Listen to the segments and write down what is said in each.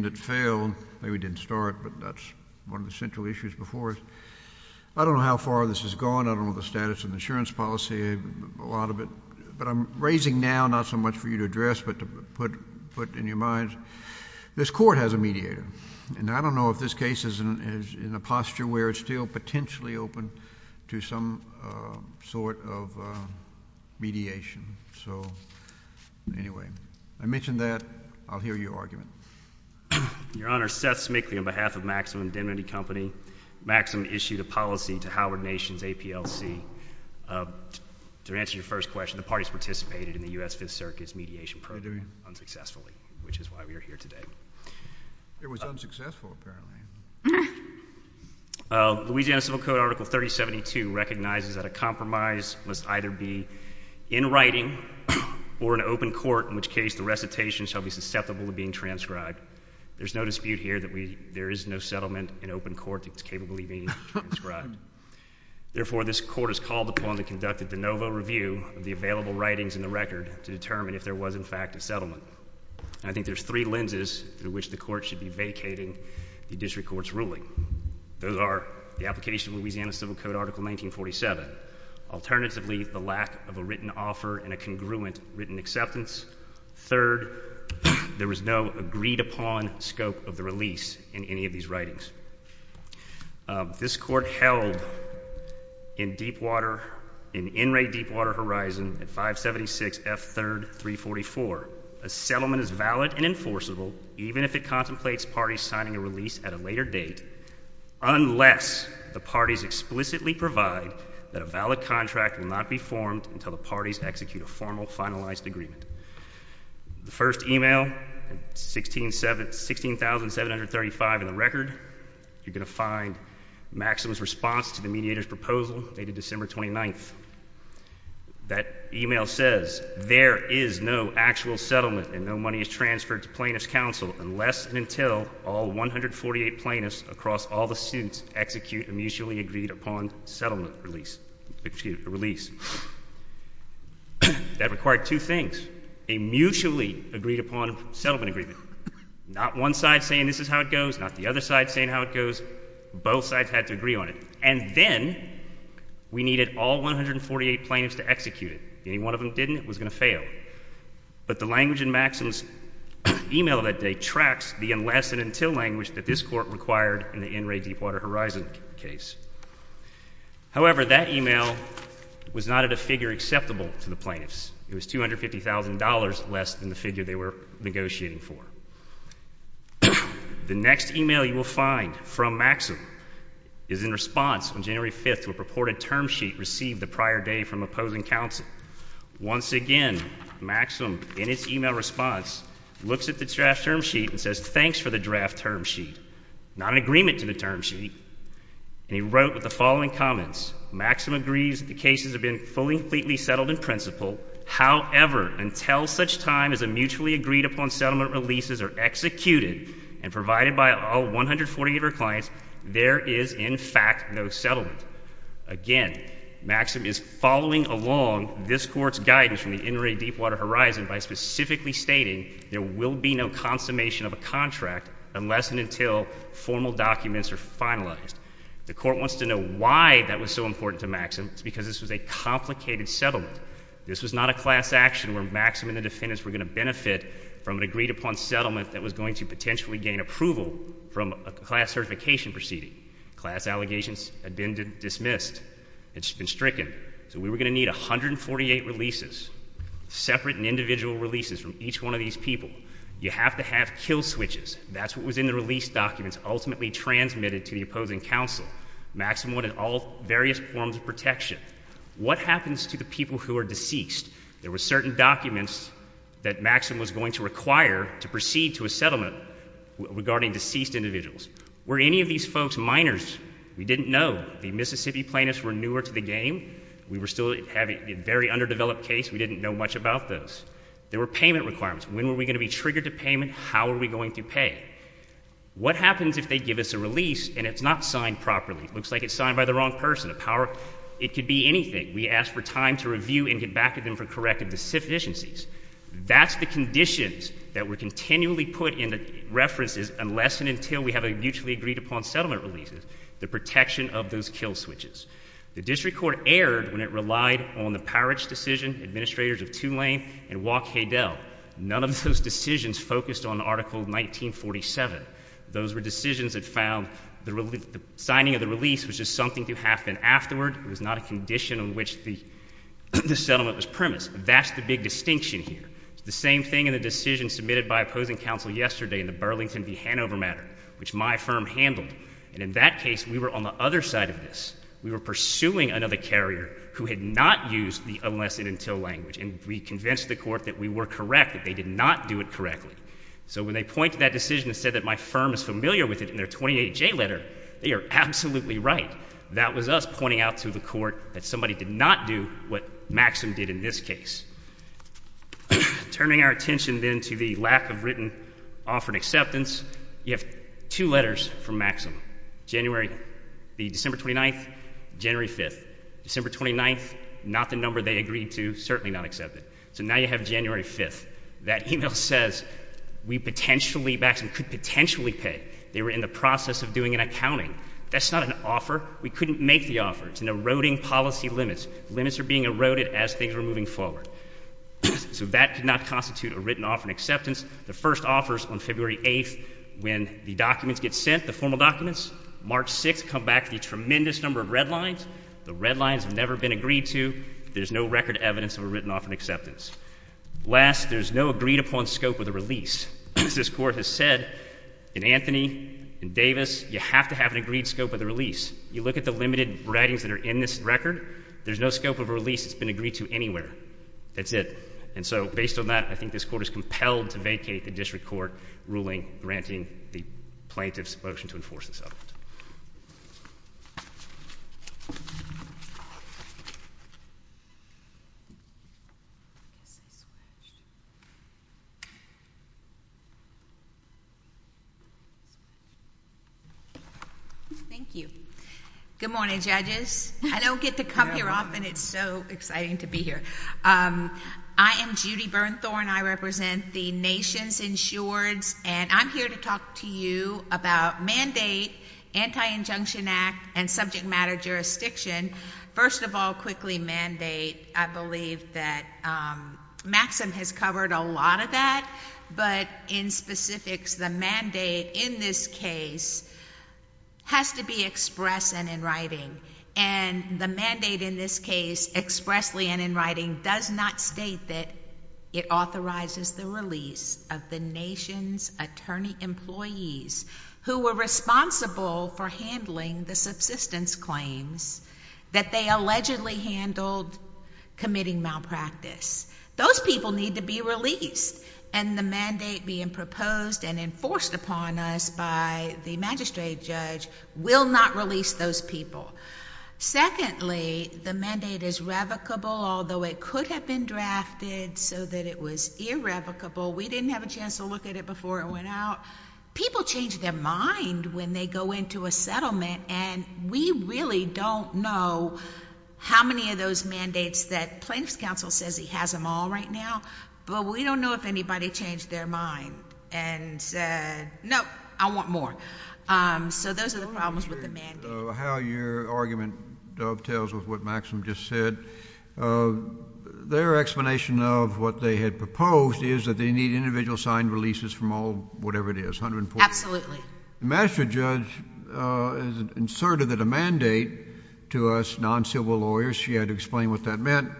The court has a mediator, and I don't know if this case is in a posture where it's still Your Honor, Seth Smigley, on behalf of Maximum Indemnity Company, Maximum issued a policy to Howard Nations, APLC. To answer your first question, the parties participated in the U.S. Fifth Circuit's mediation program unsuccessfully, which is why we are here today. It was unsuccessful, apparently. Louisiana Civil Code Article 3072 recognizes that a compromise must either be in writing or in open court, in which case the recitation shall be susceptible to being transcribed. There's no dispute here that there is no settlement in open court that's capably being transcribed. Therefore, this court has called upon the conducted de novo review of the available writings in the record to determine if there was, in fact, a settlement. And I think there's three lenses through which the court should be vacating the district court's ruling. Those are the application of Louisiana Civil Code Article 1947, alternatively, the lack of a written offer and a congruent written acceptance, third, there was no agreed-upon scope of the release in any of these writings. This court held in Deepwater, in Enray, Deepwater Horizon at 576 F. 3rd, 344, a settlement is valid and enforceable even if it contemplates parties signing a release at a later date unless the parties explicitly provide that a valid contract will not be formed until the parties execute a formal finalized agreement. The first e-mail, 16,735 in the record, you're going to find Maxim's response to the mediator's proposal dated December 29th. That e-mail says there is no actual settlement and no money is transferred to plaintiff's counsel unless and until all 148 plaintiffs across all the suits execute a mutually agreed-upon settlement release, excuse me, a release. That required two things, a mutually agreed-upon settlement agreement, not one side saying this is how it goes, not the other side saying how it goes, both sides had to agree on it. And then we needed all 148 plaintiffs to execute it. If any one of them didn't, it was going to fail. But the language in Maxim's e-mail that day tracks the unless and until language that this court required in the Enray, Deepwater Horizon case. However, that e-mail was not at a figure acceptable to the plaintiffs. It was $250,000 less than the figure they were negotiating for. The next e-mail you will find from Maxim is in response on January 5th to a purported term sheet received the prior day from opposing counsel. Once again, Maxim, in its e-mail response, looks at the draft term sheet and says, thanks for the draft term sheet. Not an agreement to the term sheet. And he wrote with the following comments. Maxim agrees that the cases have been fully and completely settled in principle. However, until such time as a mutually agreed-upon settlement releases are executed and provided by all 148 of our clients, there is in fact no settlement. Again, Maxim is following along this Court's guidance from the Enray, Deepwater Horizon by specifically stating there will be no consummation of a contract unless and until formal documents are finalized. The Court wants to know why that was so important to Maxim. It's because this was a complicated settlement. This was not a class action where Maxim and the defendants were going to benefit from an agreed-upon settlement that was going to potentially gain approval from a class certification proceeding. Class allegations had been dismissed. It's been stricken. So we were going to need 148 releases, separate and individual releases, from each one of these people. You have to have kill switches. That's what was in the release documents ultimately transmitted to the opposing counsel. Maxim wanted all various forms of protection. What happens to the people who are deceased? There were certain documents that Maxim was going to require to proceed to a settlement regarding deceased individuals. Were any of these folks minors? We didn't know. The Mississippi plaintiffs were newer to the game. We were still having a very underdeveloped case. We didn't know much about those. There were payment requirements. When were we going to be triggered to payment? How were we going to pay? What happens if they give us a release and it's not signed properly? It looks like it's signed by the wrong person. It could be anything. We ask for time to review and get back to them for corrective deficiencies. That's the conditions that were continually put in the references, unless and until we have a mutually agreed upon settlement release, the protection of those kill switches. The district court erred when it relied on the Parrish decision, administrators of Tulane and Waukegale. None of those decisions focused on Article 1947. Those were decisions that found the signing of the release was just something to happen afterward. It was not a condition on which the settlement was submitted by opposing counsel yesterday in the Burlington v. Hanover matter, which my firm handled. And in that case, we were on the other side of this. We were pursuing another carrier who had not used the unless and until language. And we convinced the court that we were correct, that they did not do it correctly. So when they point to that decision and said that my firm is familiar with it in their 28J letter, they are absolutely right. That was us pointing out to the court that somebody did not do what Maxim did in this case. Turning our attention then to the lack of written offer and acceptance, you have two letters from Maxim. January, the December 29th, January 5th. December 29th, not the number they agreed to, certainly not accepted. So now you have January 5th. That email says, we potentially, Maxim could potentially pay. They were in the process of doing an accounting. That's not an offer. We couldn't make the offer. It's an eroding policy limits. Limits are being eroded as things are moving forward. So that could not constitute a written offer and acceptance. The first offers on February 8th, when the documents get sent, the formal documents, March 6th come back with a tremendous number of red lines. The red lines have never been agreed to. There's no record evidence of a written offer and acceptance. Last, there's no agreed-upon scope of the release. As this Court has said, in Anthony and Davis, you have to have an agreed scope of the release. You look at the limited writings that are in this record, there's no scope of a release that's been agreed to anywhere. That's it. And so, based on that, I think this Court is compelled to vacate the district court ruling granting the plaintiff's motion to enforce the settlement. Thank you. Good morning, judges. I don't get to come here often. It's so exciting to be here. I am Judy Bernthorne. I represent the nation's insureds, and I'm here to talk to you about mandate, Anti-Injunction Act, and subject matter jurisdiction. First of all, quickly, mandate, I believe that Maxim has covered a lot of that, but in specifics, the mandate in this case has to be express and in writing. And the mandate in this case, expressly and in writing, does not state that it authorizes the release of the nation's attorney employees who were responsible for handling the subsistence claims that they allegedly handled committing malpractice. Those people need to be released, and the mandate being proposed and enforced upon us by the magistrate judge will not release those people. Secondly, the mandate is revocable, although it could have been drafted so that it was irrevocable. We didn't have a chance to look at it before it went out. People change their mind when they go into a settlement, and we really don't know how many of those mandates that plaintiff's counsel says he has them all right now, but we don't know if anybody changed their mind and said, no, I want more. So those are the problems with the mandate. How your argument dovetails with what Maxim just said, their explanation of what they had proposed is that they need individual signed releases from all whatever it is. Absolutely. The magistrate judge asserted that a mandate to us non-civil lawyers, she had to explain what that meant,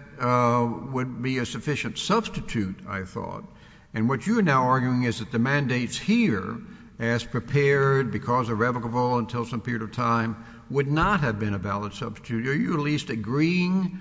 would be a sufficient substitute, I thought. And what you are now arguing is that the mandates here, as prepared because irrevocable until some period of time, would not have been a valid substitute. Are you at least agreeing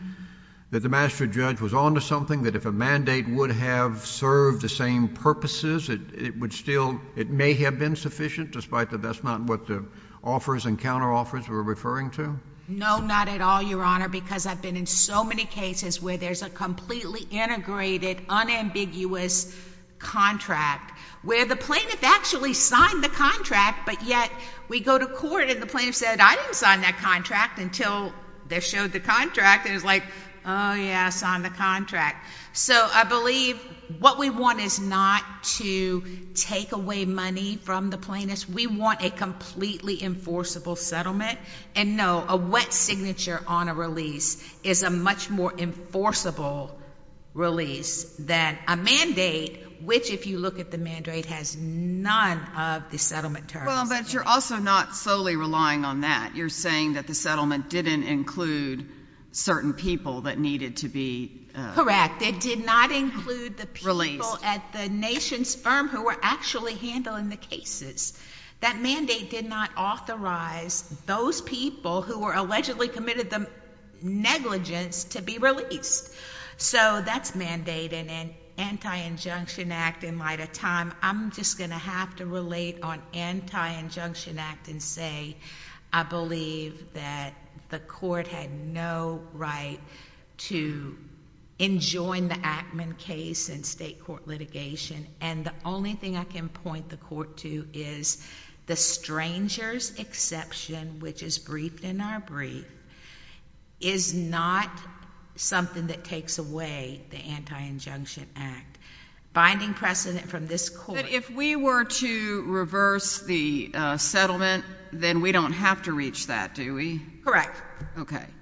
that the magistrate judge was on to something, that if a mandate would have served the same purposes, it would still it may have been sufficient, despite that that's not what the offers and counter-offers were referring to? No, not at all, Your Honor, because I've been in so many cases where there's a completely integrated, unambiguous contract where the plaintiff actually signed the contract, but yet we go to court and the plaintiff said, I didn't sign that contract until they showed the contract, and it's like, oh, yeah, I signed the contract. So I believe what we want is not to take away money from the plaintiff. We want a completely enforceable settlement. And no, a wet signature on a release is a much more enforceable release than a mandate, which if you look at the mandate, has none of the settlement terms. Well, but you're also not solely relying on that. You're saying that the settlement didn't include certain people that needed to be released. Correct. It did not include the people at the nation's firm who were actually handling the cases. That mandate did not authorize those people who were allegedly committed the negligence to be released. So that's mandate in an anti-injunction act in light of time. I'm just going to have to relate on anti-injunction act and say I believe that the court had no right to enjoin the Ackman case in state court litigation, and the only thing I can point the court to is the stranger's exception, which is briefed in our brief, is not something that takes away the anti-injunction act. Binding precedent from this court. If we were to reverse the settlement, then we don't have to reach that, do we? Correct.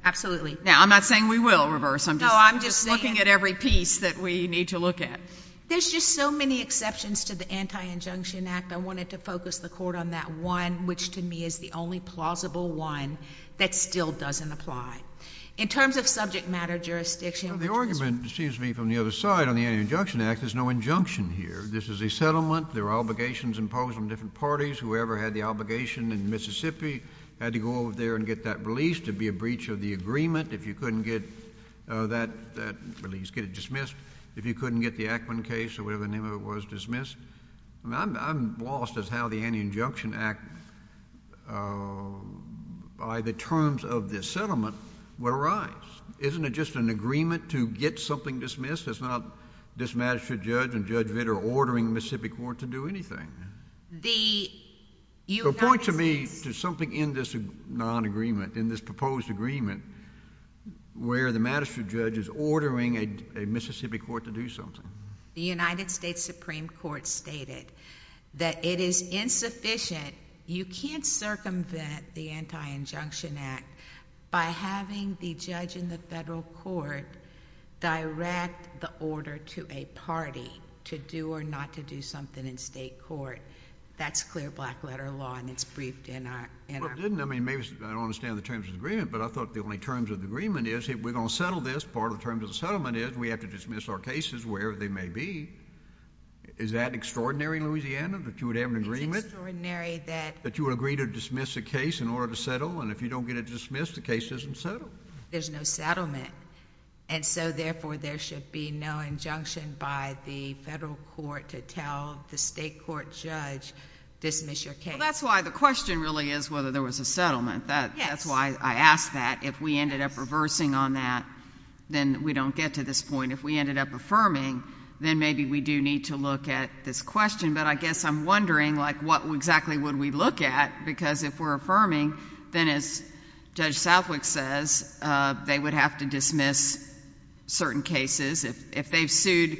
Absolutely. Now, I'm not saying we will reverse. I'm just looking at every piece that we need to look at. There's just so many exceptions to the anti-injunction act. I wanted to focus the court on that one, which to me is the only plausible one that still doesn't apply. In terms of subject matter jurisdiction, which is— The argument seems to me from the other side on the anti-injunction act, there's no injunction here. This is a settlement. There are obligations imposed on different parties. Whoever had the obligation in Mississippi had to go over there and get that released. It'd be a breach of the agreement if you couldn't get that release, get it dismissed, if you couldn't get the Ackman case or whatever the name of it was dismissed. I'm lost as how the anti-injunction act by the terms of this settlement would arise. Isn't it just an agreement to get something dismissed? It's not this magistrate judge and Judge Vitter ordering Mississippi court to do anything. Point to me to something in this non-agreement, in this proposed agreement, where the magistrate judge is ordering a Mississippi court to do something. The United States Supreme Court stated that it is insufficient. You can't circumvent the anti-injunction act by having the judge in the federal court direct the order to a party to do or not to do something in state court. That's clear black-letter law, and it's briefed in our— Well, it didn't. I don't understand the terms of the agreement, but I thought the only terms of the agreement is if we're going to settle this, part of the terms of the settlement is we have to dismiss our cases wherever they may be. Is that extraordinary in Louisiana? That you would have an agreement? It's extraordinary that— That you would agree to dismiss a case in order to settle, and if you don't get it dismissed, the case isn't settled. There's no settlement, and so therefore there should be no injunction by the federal court to tell the state court judge, dismiss your case. Well, that's why the question really is whether there was a settlement. That's why I asked that. If we ended up reversing on that, then we don't get to this point. If we ended up affirming, then maybe we do need to look at this question, but I guess I'm wondering, like, what exactly would we look at? Because if we're affirming, then as Judge Southwick says, they would have to dismiss certain cases. If they've sued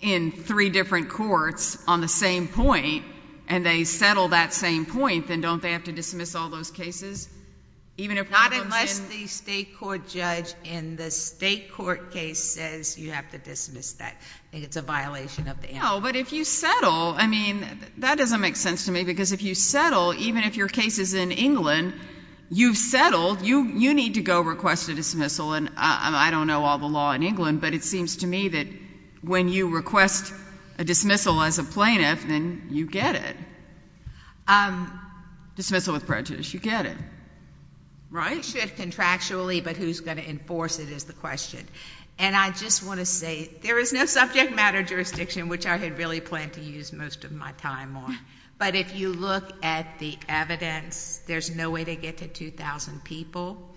in three different courts on the same point, and they settle that same point, then don't they have to dismiss all those cases? Even if— Not unless the state court judge in the state court case says you have to dismiss that. I think it's a violation of the— No, but if you settle, I mean, that doesn't make sense to me, because if you settle, even if your case is in England, you've settled. You need to go request a dismissal, and I don't know all the law in England, but it seems to me that when you request a dismissal as a plaintiff, then you get it. Dismissal with prejudice, you get it. You should contractually, but who's going to enforce it is the question, and I just don't know. The subject matter jurisdiction, which I had really planned to use most of my time on, but if you look at the evidence, there's no way to get to 2,000 people,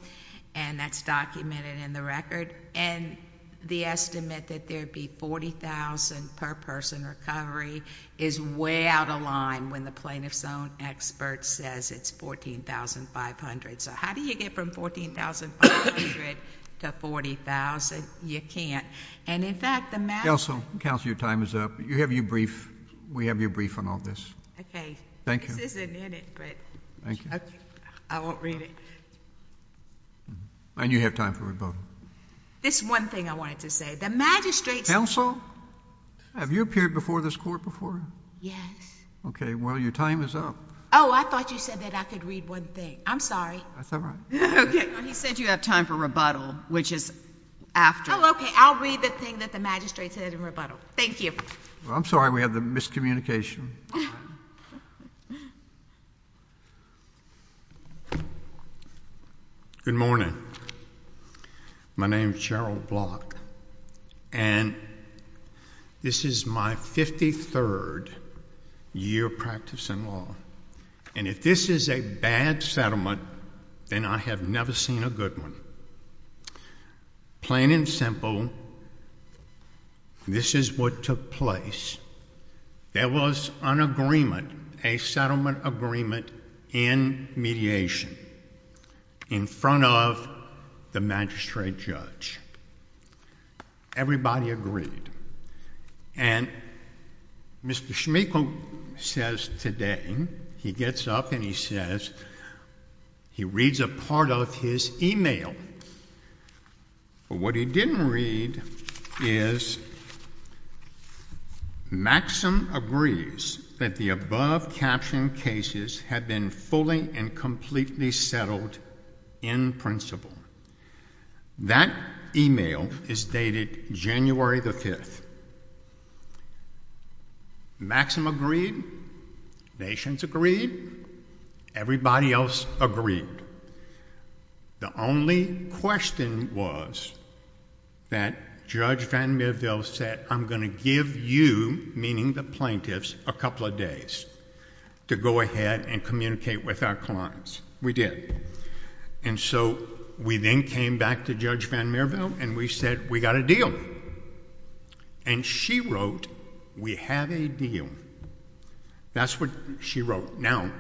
and that's documented in the record, and the estimate that there'd be 40,000 per person recovery is way out of line when the plaintiff's own expert says it's 14,500. So how do you get from 14,500 to 40,000? You can't, and in fact, the matter— Counsel, Counsel, your time is up. You have your brief. We have your brief on all this. Okay. Thank you. This isn't in it, but— Thank you. I won't read it. And you have time for rebuttal. There's one thing I wanted to say. The magistrate's— Counsel, have you appeared before this Court before? Yes. Okay. Well, your time is up. Oh, I thought you said that I could read one thing. I'm sorry. That's all right. Okay. Well, he said you have time for rebuttal, which is after. Well, okay. I'll read the thing that the magistrate said in rebuttal. Thank you. Well, I'm sorry. We have the miscommunication. Good morning. My name is Gerald Block, and this is my 53rd year of practice in law, and if this is a bad settlement, then I have never seen a good one. Plain and simple, this is what took place. There was an agreement, a settlement agreement in mediation in front of the magistrate judge. Everybody agreed. And Mr. Schmeichel says today, he gets up and he says, he reads a part of his email, but what he didn't read is, Maxim agrees that the above-captioned cases have been fully and completely settled in principle. That email is dated January the 5th. Maxim agreed. Nations agreed. Everybody else agreed. The only question was that Judge VanMierville said, I'm going to give you, meaning the plaintiffs, a couple of days to go ahead and communicate with our clients. We did. And so we then came back to Judge VanMierville and we said, we got a deal. And she wrote, we have a deal. That's what she wrote. Now,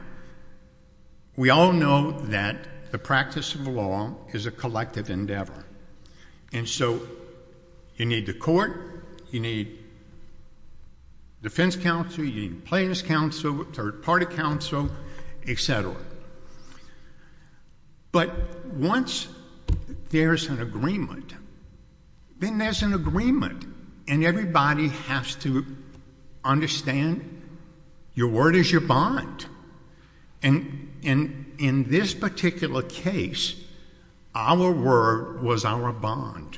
we all know that the practice of law is a collective endeavor. And so you need the court, you need defense counsel, you need plaintiff's counsel, third-party counsel, et cetera. But once there's an agreement, then there's an agreement. And everybody has to understand, your word is your bond. And in this particular case, our word was our bond.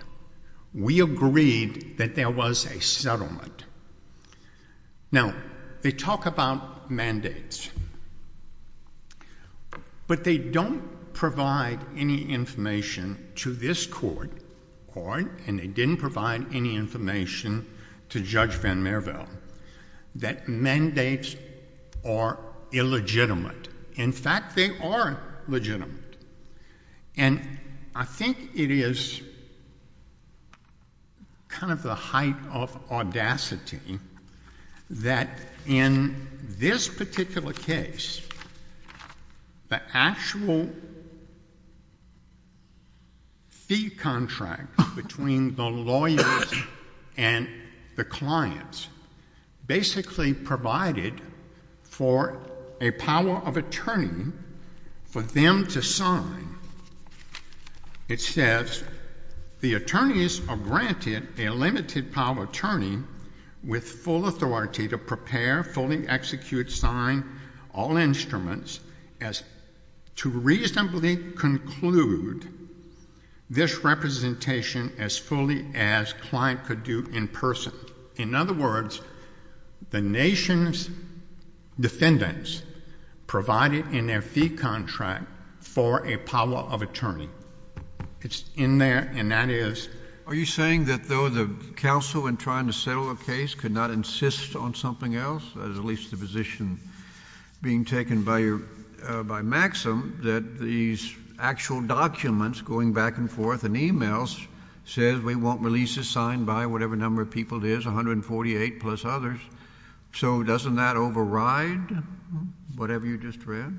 We agreed that there was a settlement. Now, they talk about mandates. But they don't provide any information to this court, and they didn't provide any information to Judge VanMierville, that mandates are illegitimate. In fact, they are legitimate. And I think it is kind of the height of audacity that in this particular case, the actual fee contract between the lawyers and the clients basically provided for a power of attorney for them to sign. It says, the attorneys are granted a limited power of attorney with full authority to prepare, fully execute, sign all instruments to reasonably conclude this representation as fully as client could do in person. In other words, the nation's defendants provided in their fee contract for a power of attorney. It's in there, and that is... Are you saying that though the counsel in trying to settle a case could not insist on something else, that is at least the position being taken by Maxim, that these actual documents going back and forth and emails says we want releases signed by whatever number of people there is, 148 plus others. So doesn't that override whatever you just read?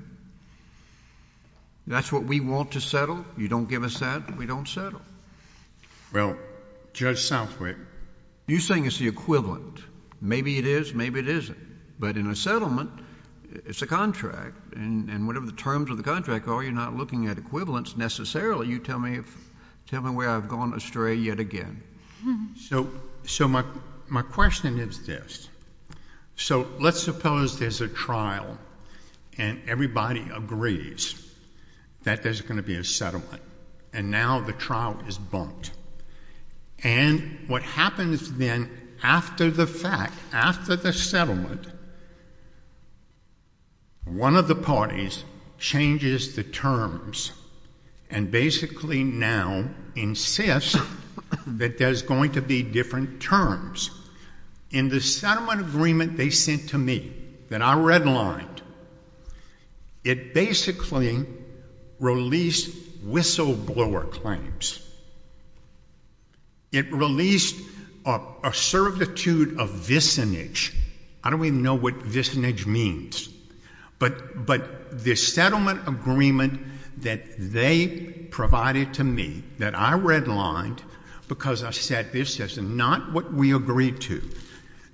That's what we want to settle. You don't give us that, we don't settle. Well, Judge Southwick... You're saying it's the equivalent. Maybe it is, maybe it isn't. But in a settlement, it's a contract. And whatever the terms of the contract are, you're not looking at equivalents necessarily. You tell me where I've gone astray yet again. So my question is this. So let's suppose there's a trial and everybody agrees that there's going to be a settlement. And now the trial is bumped. And what happens then after the fact, after the settlement, one of the parties changes the terms and basically now insists that there's going to be different terms. In the settlement agreement they sent to me, that I redlined, it basically released whistleblower claims. It released a certitude of vicinage. I don't even know what vicinage means. But the settlement agreement that they provided to me, that I redlined, because I said this is not what we agreed to,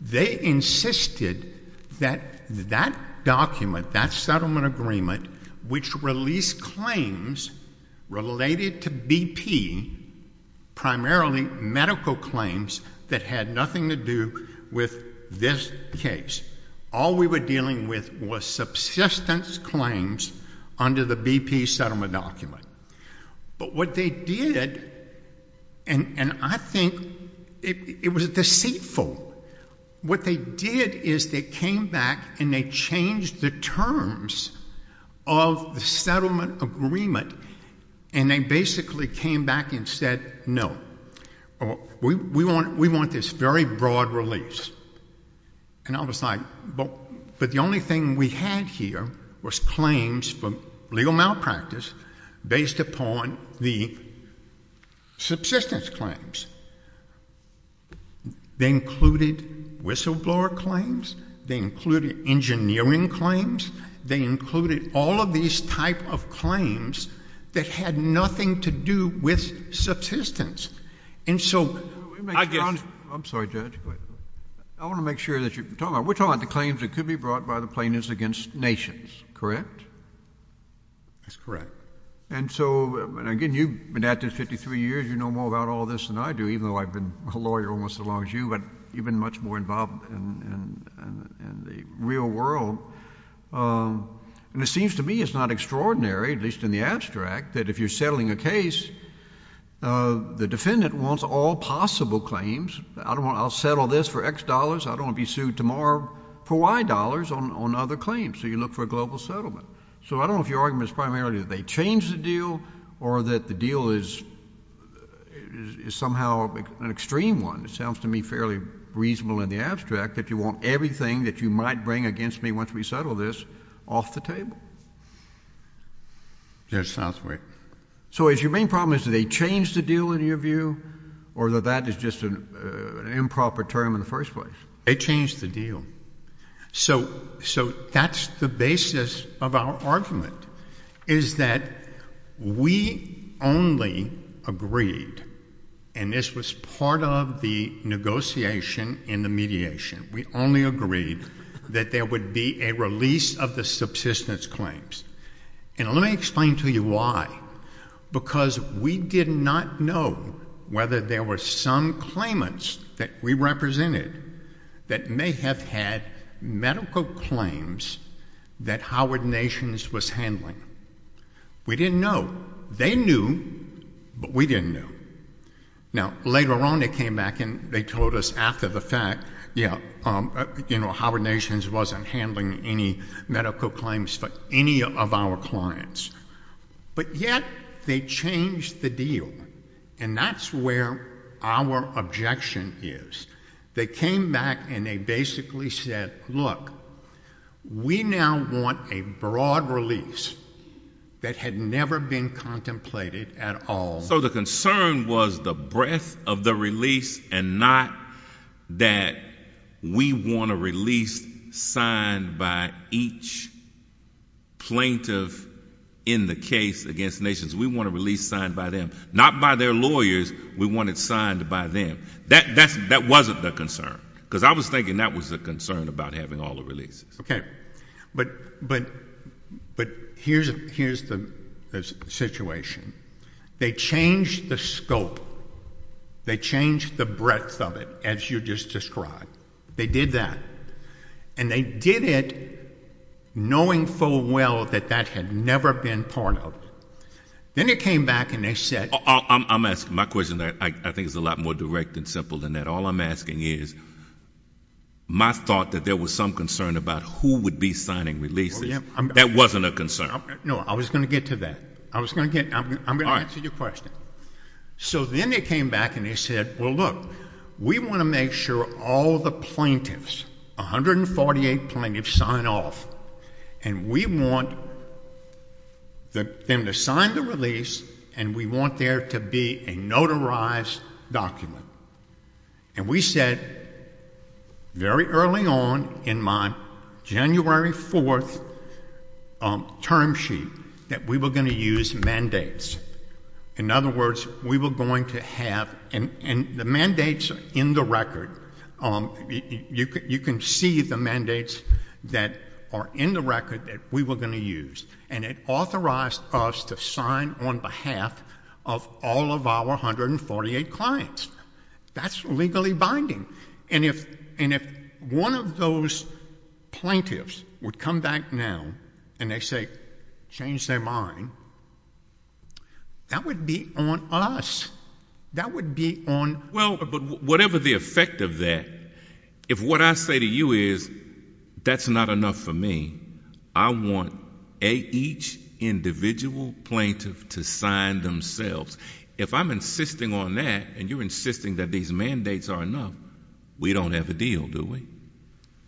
they insisted that that document, that settlement agreement, which released claims related to BP, primarily medical claims, that had nothing to do with this case. All we were dealing with was subsistence claims under the BP settlement document. But what they did, and I think it was deceitful, what they did is they came back and they changed the terms of the settlement agreement and they basically came back and said, no, we want this very broad release. And I was like, but the only thing we had here was claims for legal malpractice based upon the subsistence claims. They included whistleblower claims, they included engineering claims, they included all of these type of claims that had nothing to do with subsistence. And so, I guess... I'm sorry, Judge. I want to make sure that you're talking about... We're talking about the claims that could be brought by the plaintiffs against nations, correct? That's correct. And so, again, you've been at this 53 years, you know more about all this than I do, even though I've been a lawyer almost as long as you, but you've been much more involved in the real world. And it seems to me it's not extraordinary, at least in the abstract, that if you're settling a case, the defendant wants all possible claims. I'll settle this for X dollars, I don't want to be sued tomorrow for Y dollars on other claims. So you look for a global settlement. So I don't know if your argument is primarily that they change the deal or that the deal is somehow an extreme one. It sounds to me fairly reasonable in the abstract that you want everything that you might bring against me once we settle this off the table. That sounds right. So is your main problem, is that they change the deal, in your view, or that that is just an improper term in the first place? They change the deal. So that's the basis of our argument, is that we only agreed, and this was part of the negotiation in the mediation, we only agreed that there would be a release of the subsistence claims. And let me explain to you why. Because we did not know whether there were some claimants that we represented that may have had medical claims that Howard Nations was handling. We didn't know. They knew, but we didn't know. Now, later on, they came back and they told us after the fact, you know, Howard Nations wasn't handling any medical claims for any of our clients. But yet they changed the deal, and that's where our objection is. They came back and they basically said, look, we now want a broad release that had never been contemplated at all. So the concern was the breadth of the release and not that we want a release signed by each plaintiff in the case against Nations. We want a release signed by them. Not by their lawyers. We want it signed by them. That wasn't the concern, because I was thinking that was the concern about having all the releases. Okay, but here's the situation. They changed the scope. They changed the breadth of it, as you just described. They did that. And they did it knowing full well that that had never been part of it. Then they came back and they said... I'm asking, my question, I think, is a lot more direct and simple than that. All I'm asking is, my thought that there was some concern about who would be signing releases, that wasn't a concern. No, I was going to get to that. I'm going to answer your question. So then they came back and they said, well, look, we want to make sure all the plaintiffs, 148 plaintiffs, sign off. And we want them to sign the release and we want there to be a notarized document. And we said, very early on, in my January 4th term sheet, that we were going to use mandates. In other words, we were going to have... And the mandates are in the record. You can see the mandates that are in the record that we were going to use. And it authorized us to sign on behalf of all of our 148 clients. That's legally binding. And if one of those plaintiffs would come back now and they say, change their mind, that would be on us. That would be on... Well, but whatever the effect of that, if what I say to you is that's not enough for me, I want each individual plaintiff to sign themselves. If I'm insisting on that and you're insisting that these mandates are enough, we don't have a deal, do we?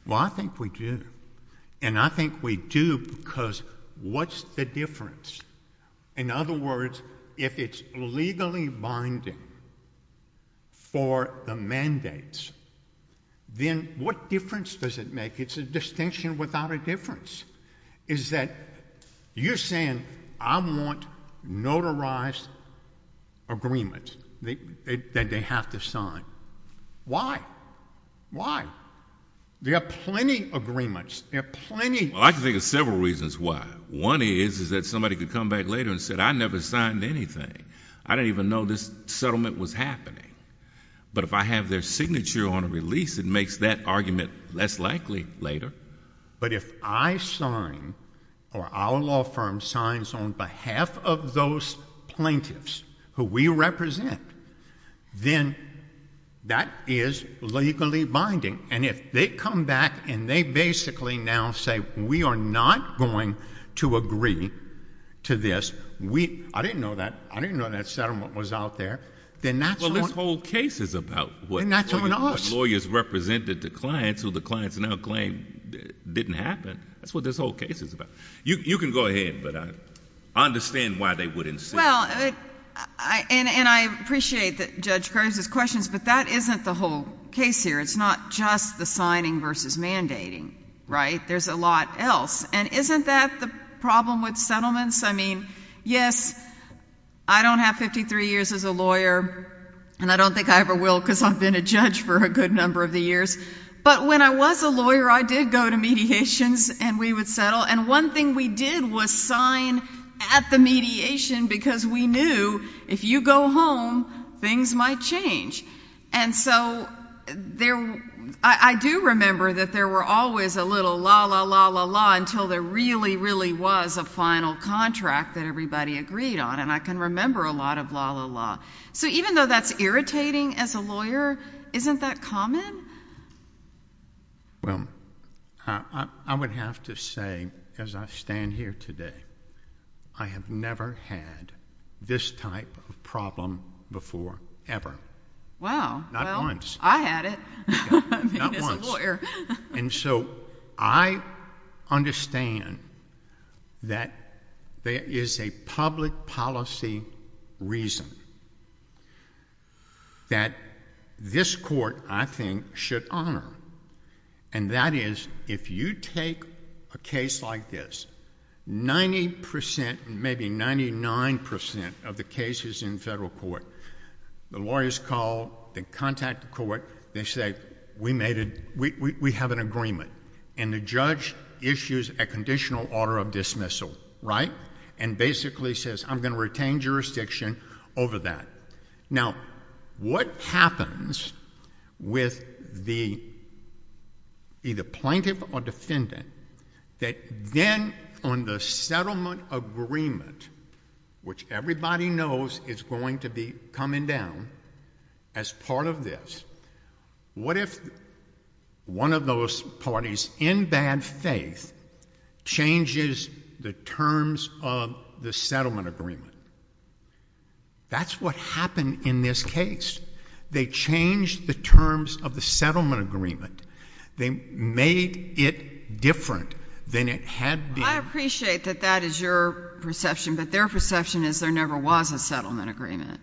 Well, I think we do. And I think we do because what's the difference? In other words, if it's legally binding for the mandates, then what difference does it make? It's a distinction without a difference. Is that you're saying, I want notarized agreements that they have to sign. Why? Why? There are plenty of agreements. There are plenty. Well, I can think of several reasons why. One is that somebody could come back later and say, I never signed anything. I didn't even know this settlement was happening. But if I have their signature on a release, it makes that argument less likely later. But if I sign or our law firm signs on behalf of those plaintiffs who we represent, then that is legally binding. And if they come back and they basically now say we are not going to agree to this. I didn't know that. I didn't know that settlement was out there. Well, this whole case is about what lawyers represented to clients who the clients now claim didn't happen. That's what this whole case is about. You can go ahead, but I understand why they wouldn't sign. Well, and I appreciate Judge Kerr's questions, but that isn't the whole case here. It's not just the signing versus mandating, right? There's a lot else. And isn't that the problem with settlements? I mean, yes, I don't have 53 years as a lawyer and I don't think I ever will because I've been a judge for a good number of the years. But when I was a lawyer, I did go to mediations and we would settle. And one thing we did was sign at the mediation because we knew if you go home, things might change. And so, I do remember that there were always a little la-la-la-la-la until there really, really was a final contract that everybody agreed on. And I can remember a lot of la-la-la. So even though that's irritating as a lawyer, isn't that common? Well, I would have to say as I stand here today, I have never had this type of problem before ever. Wow. Well, I had it. Not once. And so, I understand that there is a public policy that this court, I think, should honor. And that is if you take a case like this, 90%, maybe 99% of the cases in federal court, the lawyers call, they contact the court, they say, we have an agreement. And the judge issues a conditional order of dismissal, right? And basically says, I'm going to retain jurisdiction over that. Now, what happens with the either plaintiff or defendant, that then on the settlement agreement, which everybody knows is going to be coming down as part of this, what if one of those parties, in bad faith, changes the terms of the settlement agreement? That's what happened in this case. They changed the terms of the settlement agreement. They made it different than it had been. I appreciate that that is your perception, but their perception is there never was a settlement agreement.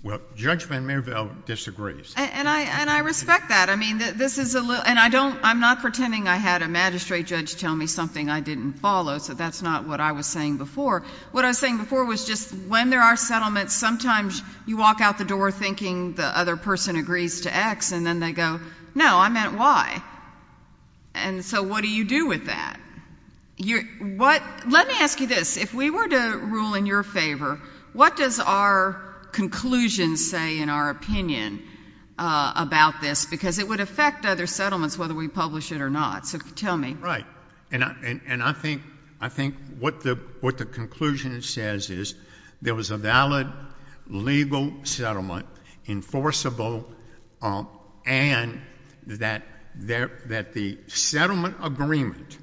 Well, Judge Van Mervel disagrees. And I respect that. And I'm not pretending I had a magistrate judge tell me something I didn't follow, so that's not what I was saying before. What I was saying before was just when there are settlements, sometimes you walk out the door thinking the other person agrees to X, and then they go, no, I meant Y. And so what do you do with that? Let me ask you this. If we were to rule in your favor, what does our conclusion say in our opinion about this? Because it would affect other settlements whether we publish it or not. So tell me. Right. And I think what the conclusion says is there was a valid legal settlement enforceable and that the settlement agreement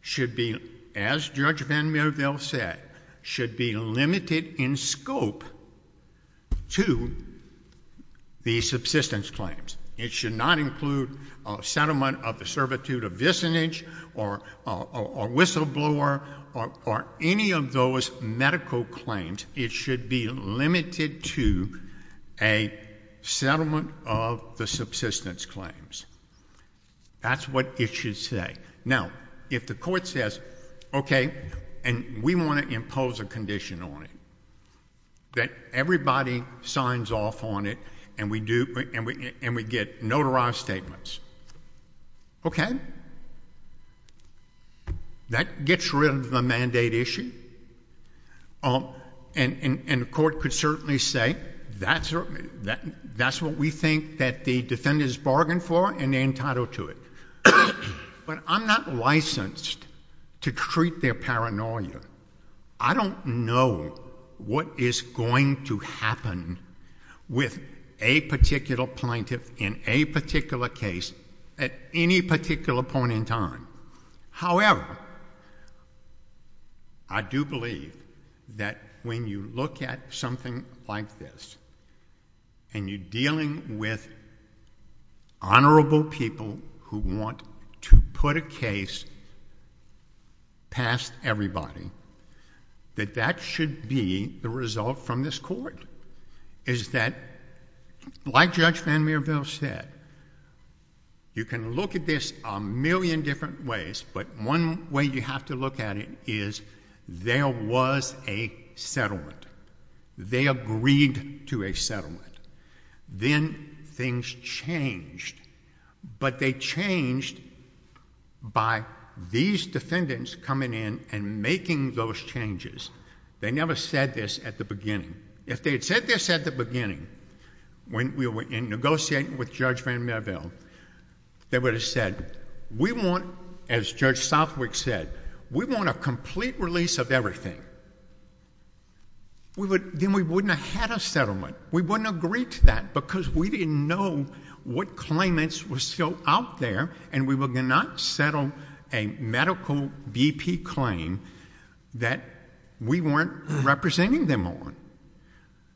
should be as Judge Van Mervel said should be limited in scope to the subsistence claims. It should not include settlement of the servitude of visinage or whistleblower or any of those medical claims. It should be a settlement of the subsistence claims. That's what it should say. Now, if the court says okay, and we want to impose a condition on it that everybody signs off on it and we get notarized statements. Okay. That gets rid of the mandate issue and the court could certainly say that's what we think the defendant has bargained for and they're entitled to it. But I'm not licensed to treat their paranoia. I don't know what is going to happen with a particular plaintiff in a particular case at any particular point in time. However, I do believe that when you look at something like this and you're dealing with honorable people who want to put a case past everybody that that should be the result from this court is that like Judge Van Mierveld said you can look at this a million different ways but one way you have to look at it is there was a settlement. They agreed to a settlement. Then things changed. But they changed by these defendants coming in and making those changes. They never said this at the beginning. If they had said this were negotiating with Judge Van Mierveld they would have said we want, as Judge Van Mierveld said, a complete release of everything. Then we wouldn't have had a settlement. We wouldn't have agreed to that because we didn't know what claimants were still out there and we would not settle a medical VP claim that we weren't representing them on.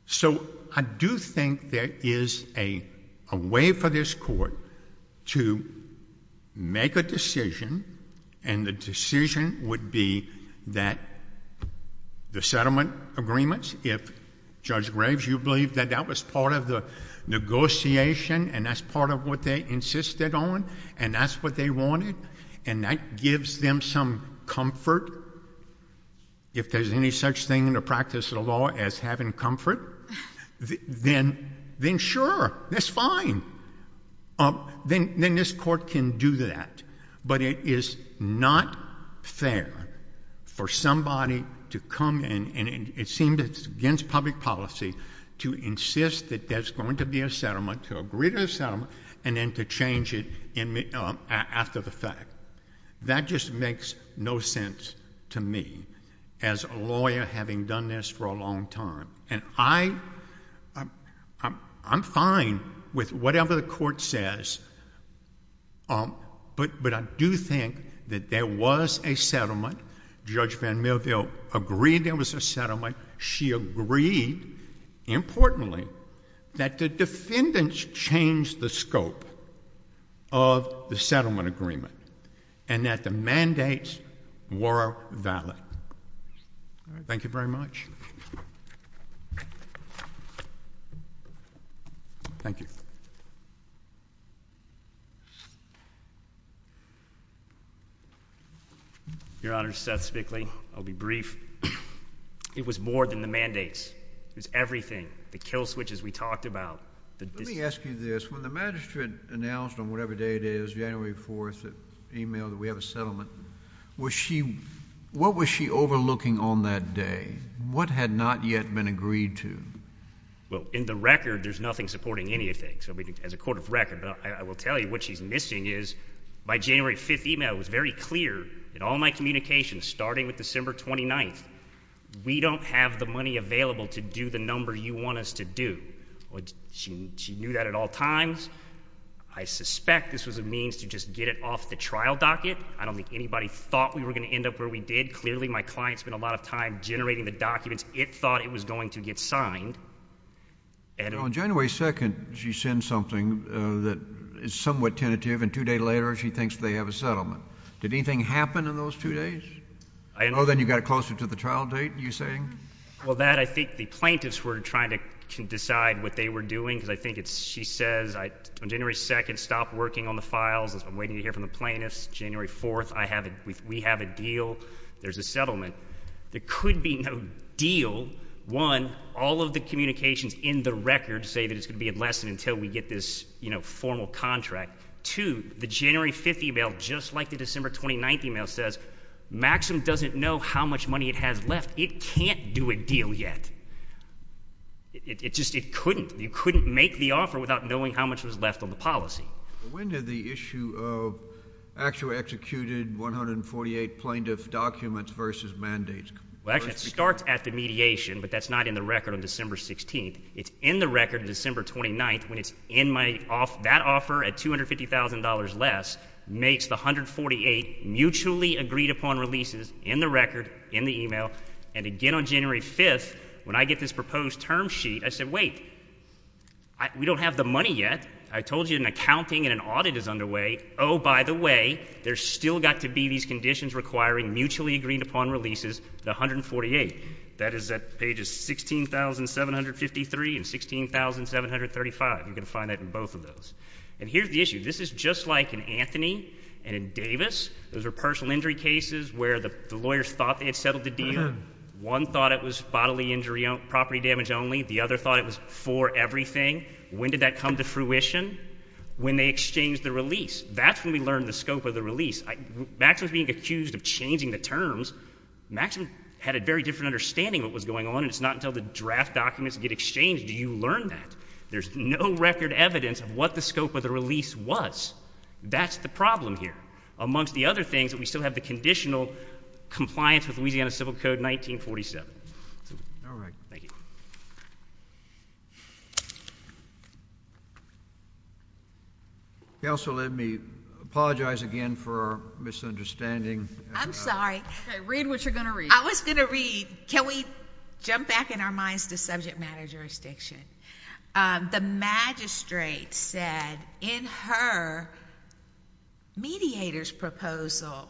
So I do think there is a way for this court to make a decision and the decision would be that the settlement agreements, if Judge Graves, you believe that that was part of the negotiation and that's part of what they insisted on and that's what they wanted and that gives them some comfort if there's any such thing in the practice of the law as having comfort then sure that's fine then this court can do that but it is not fair for somebody to come and it seems it's against public policy to insist that there's going to be a settlement, to agree to a settlement and then to change it after the fact. That just makes no sense to me as a lawyer having done this for a long time and I I'm fine with whatever the court says but I do think that there was a settlement, Judge Van Millville agreed there was a settlement she agreed importantly that the defendants changed the scope of the settlement agreement and that the mandates were valid. Thank you very much. Thank you. Your Honor, Seth Spickley I'll be brief it was more than the mandates it was everything, the kill switches we talked about Let me ask you this, when the magistrate announced on whatever day it is January 4th, emailed that we have a settlement what was she overlooking on that day? What had not yet been agreed to? In the record there's nothing supporting anything as a court of record but I will tell you what she's missing is by January 5th email it was very clear in all my communications starting with December 29th, we don't have the money available to do the number you want us to do. She knew that at all times I suspect this was a means to just get it off the trial docket I don't think anybody thought we were going to end up where we did clearly my client spent a lot of time generating the documents, it thought it was going to get signed On January 2nd she sends something that is somewhat tentative and two days later she thinks they have a settlement. Did anything happen in those two days? Or then you got it closer to the trial date you're saying? Well that I think the plaintiffs were trying to decide what they were doing I think she says on January 2nd stop working on the files I'm waiting to hear from the plaintiffs, January 4th we have a deal there's a settlement there could be no deal one, all of the communications in the record say that it's going to be in less than until we get this formal contract two, the January 5th email just like the December 29th email says Maxim doesn't know how much money it has left, it can't do a deal yet it just, it couldn't make the offer without knowing how much was left on the policy. When did the issue of actually executed 148 plaintiff documents versus mandates? Well actually it starts at the mediation but that's not in the record on December 16th, it's in the record on December 29th when it's in my, that offer at $250,000 less makes the 148 mutually agreed upon releases in the record, in the email, and again on January 5th when I get this proposed term sheet I said wait we don't have the money yet, I told you an accounting and an audit is underway oh by the way, there's still got to be these conditions requiring mutually agreed upon releases, the 148 that is at pages 16,753 and 16,735, you're going to find that in both of those. And here's the issue this is just like in Anthony and in Davis, those are personal injury cases where the lawyers thought they had settled the deal, one thought it was bodily injury, property damage only the other thought it was for everything when did that come to fruition? when they exchanged the release that's when we learned the scope of the release Max was being accused of changing the terms, Max had a very different understanding of what was going on and it's not until the draft documents get exchanged do you learn that, there's no record evidence of what the scope of the release was, that's the problem here, amongst the other things that we still have the conditional compliance with Louisiana Civil Code 1947 thank you counsel let me apologize again for misunderstanding, I'm sorry read what you're going to read, I was going to read, can we jump back in our minds to subject matter jurisdiction the magistrate said in her mediators proposal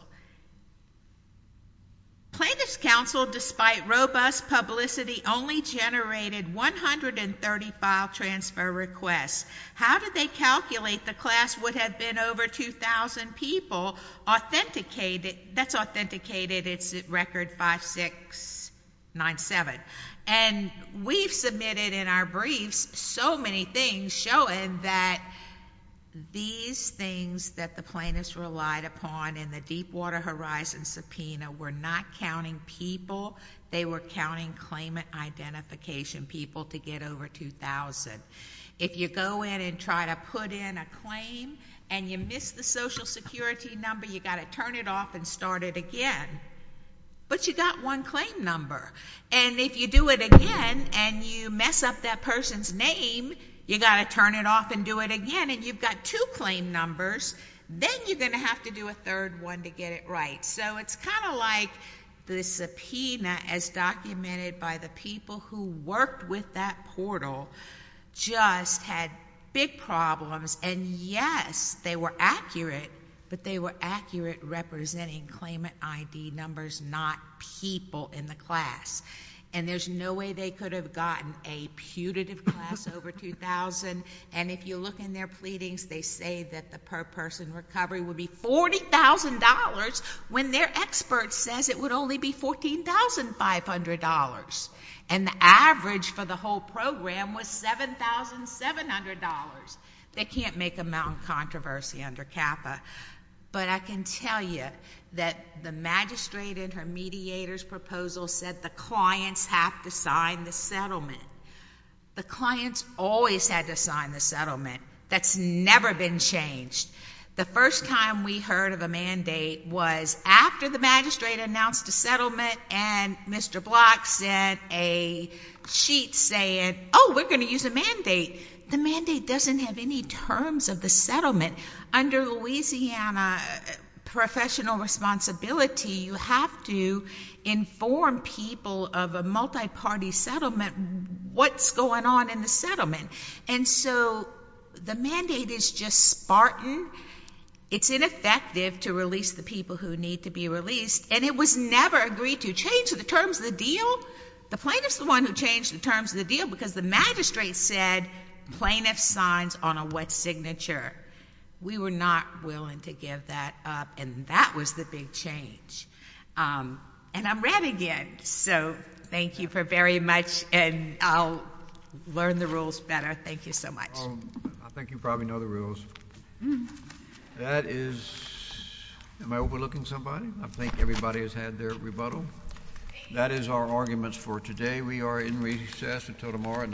plaintiff's counsel despite robust publicity only generated 130 file transfer requests, how did they calculate the class would have been over 2,000 people that's authenticated it's record 5697 and we've submitted in our briefs so many things showing that these things that the plaintiffs relied upon in the Deepwater Horizon subpoena were not counting people, they were counting claimant identification people to get over 2,000 if you go in and try to put in a claim and you miss the social security number, you've got to turn it off and start it again but you got one claim number and if you do it again and you mess up that person's name, you've got to turn it off and do it again and you've got two claim numbers, then you're going to have to do a third one to get it right so it's kind of like the subpoena as documented by the people who worked with that portal just had big problems and yes, they were accurate but they were accurate representing claimant ID numbers not people in the class and there's no way they could have gotten a putative class over 2,000 and if you look in their pleadings, they say that the per person recovery would be $40,000 when their expert says it would only be $14,500 and the average for the whole program was $7,700 they can't make a mountain controversy under CAFA but I can tell you that the magistrate and her mediators proposal said the clients have to sign the settlement. The clients always had to sign the settlement that's never been changed the first time we heard of a mandate was after the magistrate announced a settlement and Mr. Block said a cheat saying oh, we're going to use a mandate the mandate doesn't have any terms of the settlement. Under Louisiana professional responsibility, you have to inform people of a multi-party settlement what's going on in the settlement and so the mandate is just spartan it's ineffective to release the people who need to be released and it was never agreed to change the terms of the deal the plaintiff is the one who changed the terms of the deal because the magistrate said plaintiff signs on a wet signature we were not willing to give that up and that was the big change and I'm red again so thank you for very much and I'll learn the rules better. Thank you so much I think you probably know the rules that is am I overlooking somebody I think everybody has had their rebuttal that is our arguments for today. We are in recess until tomorrow at 9am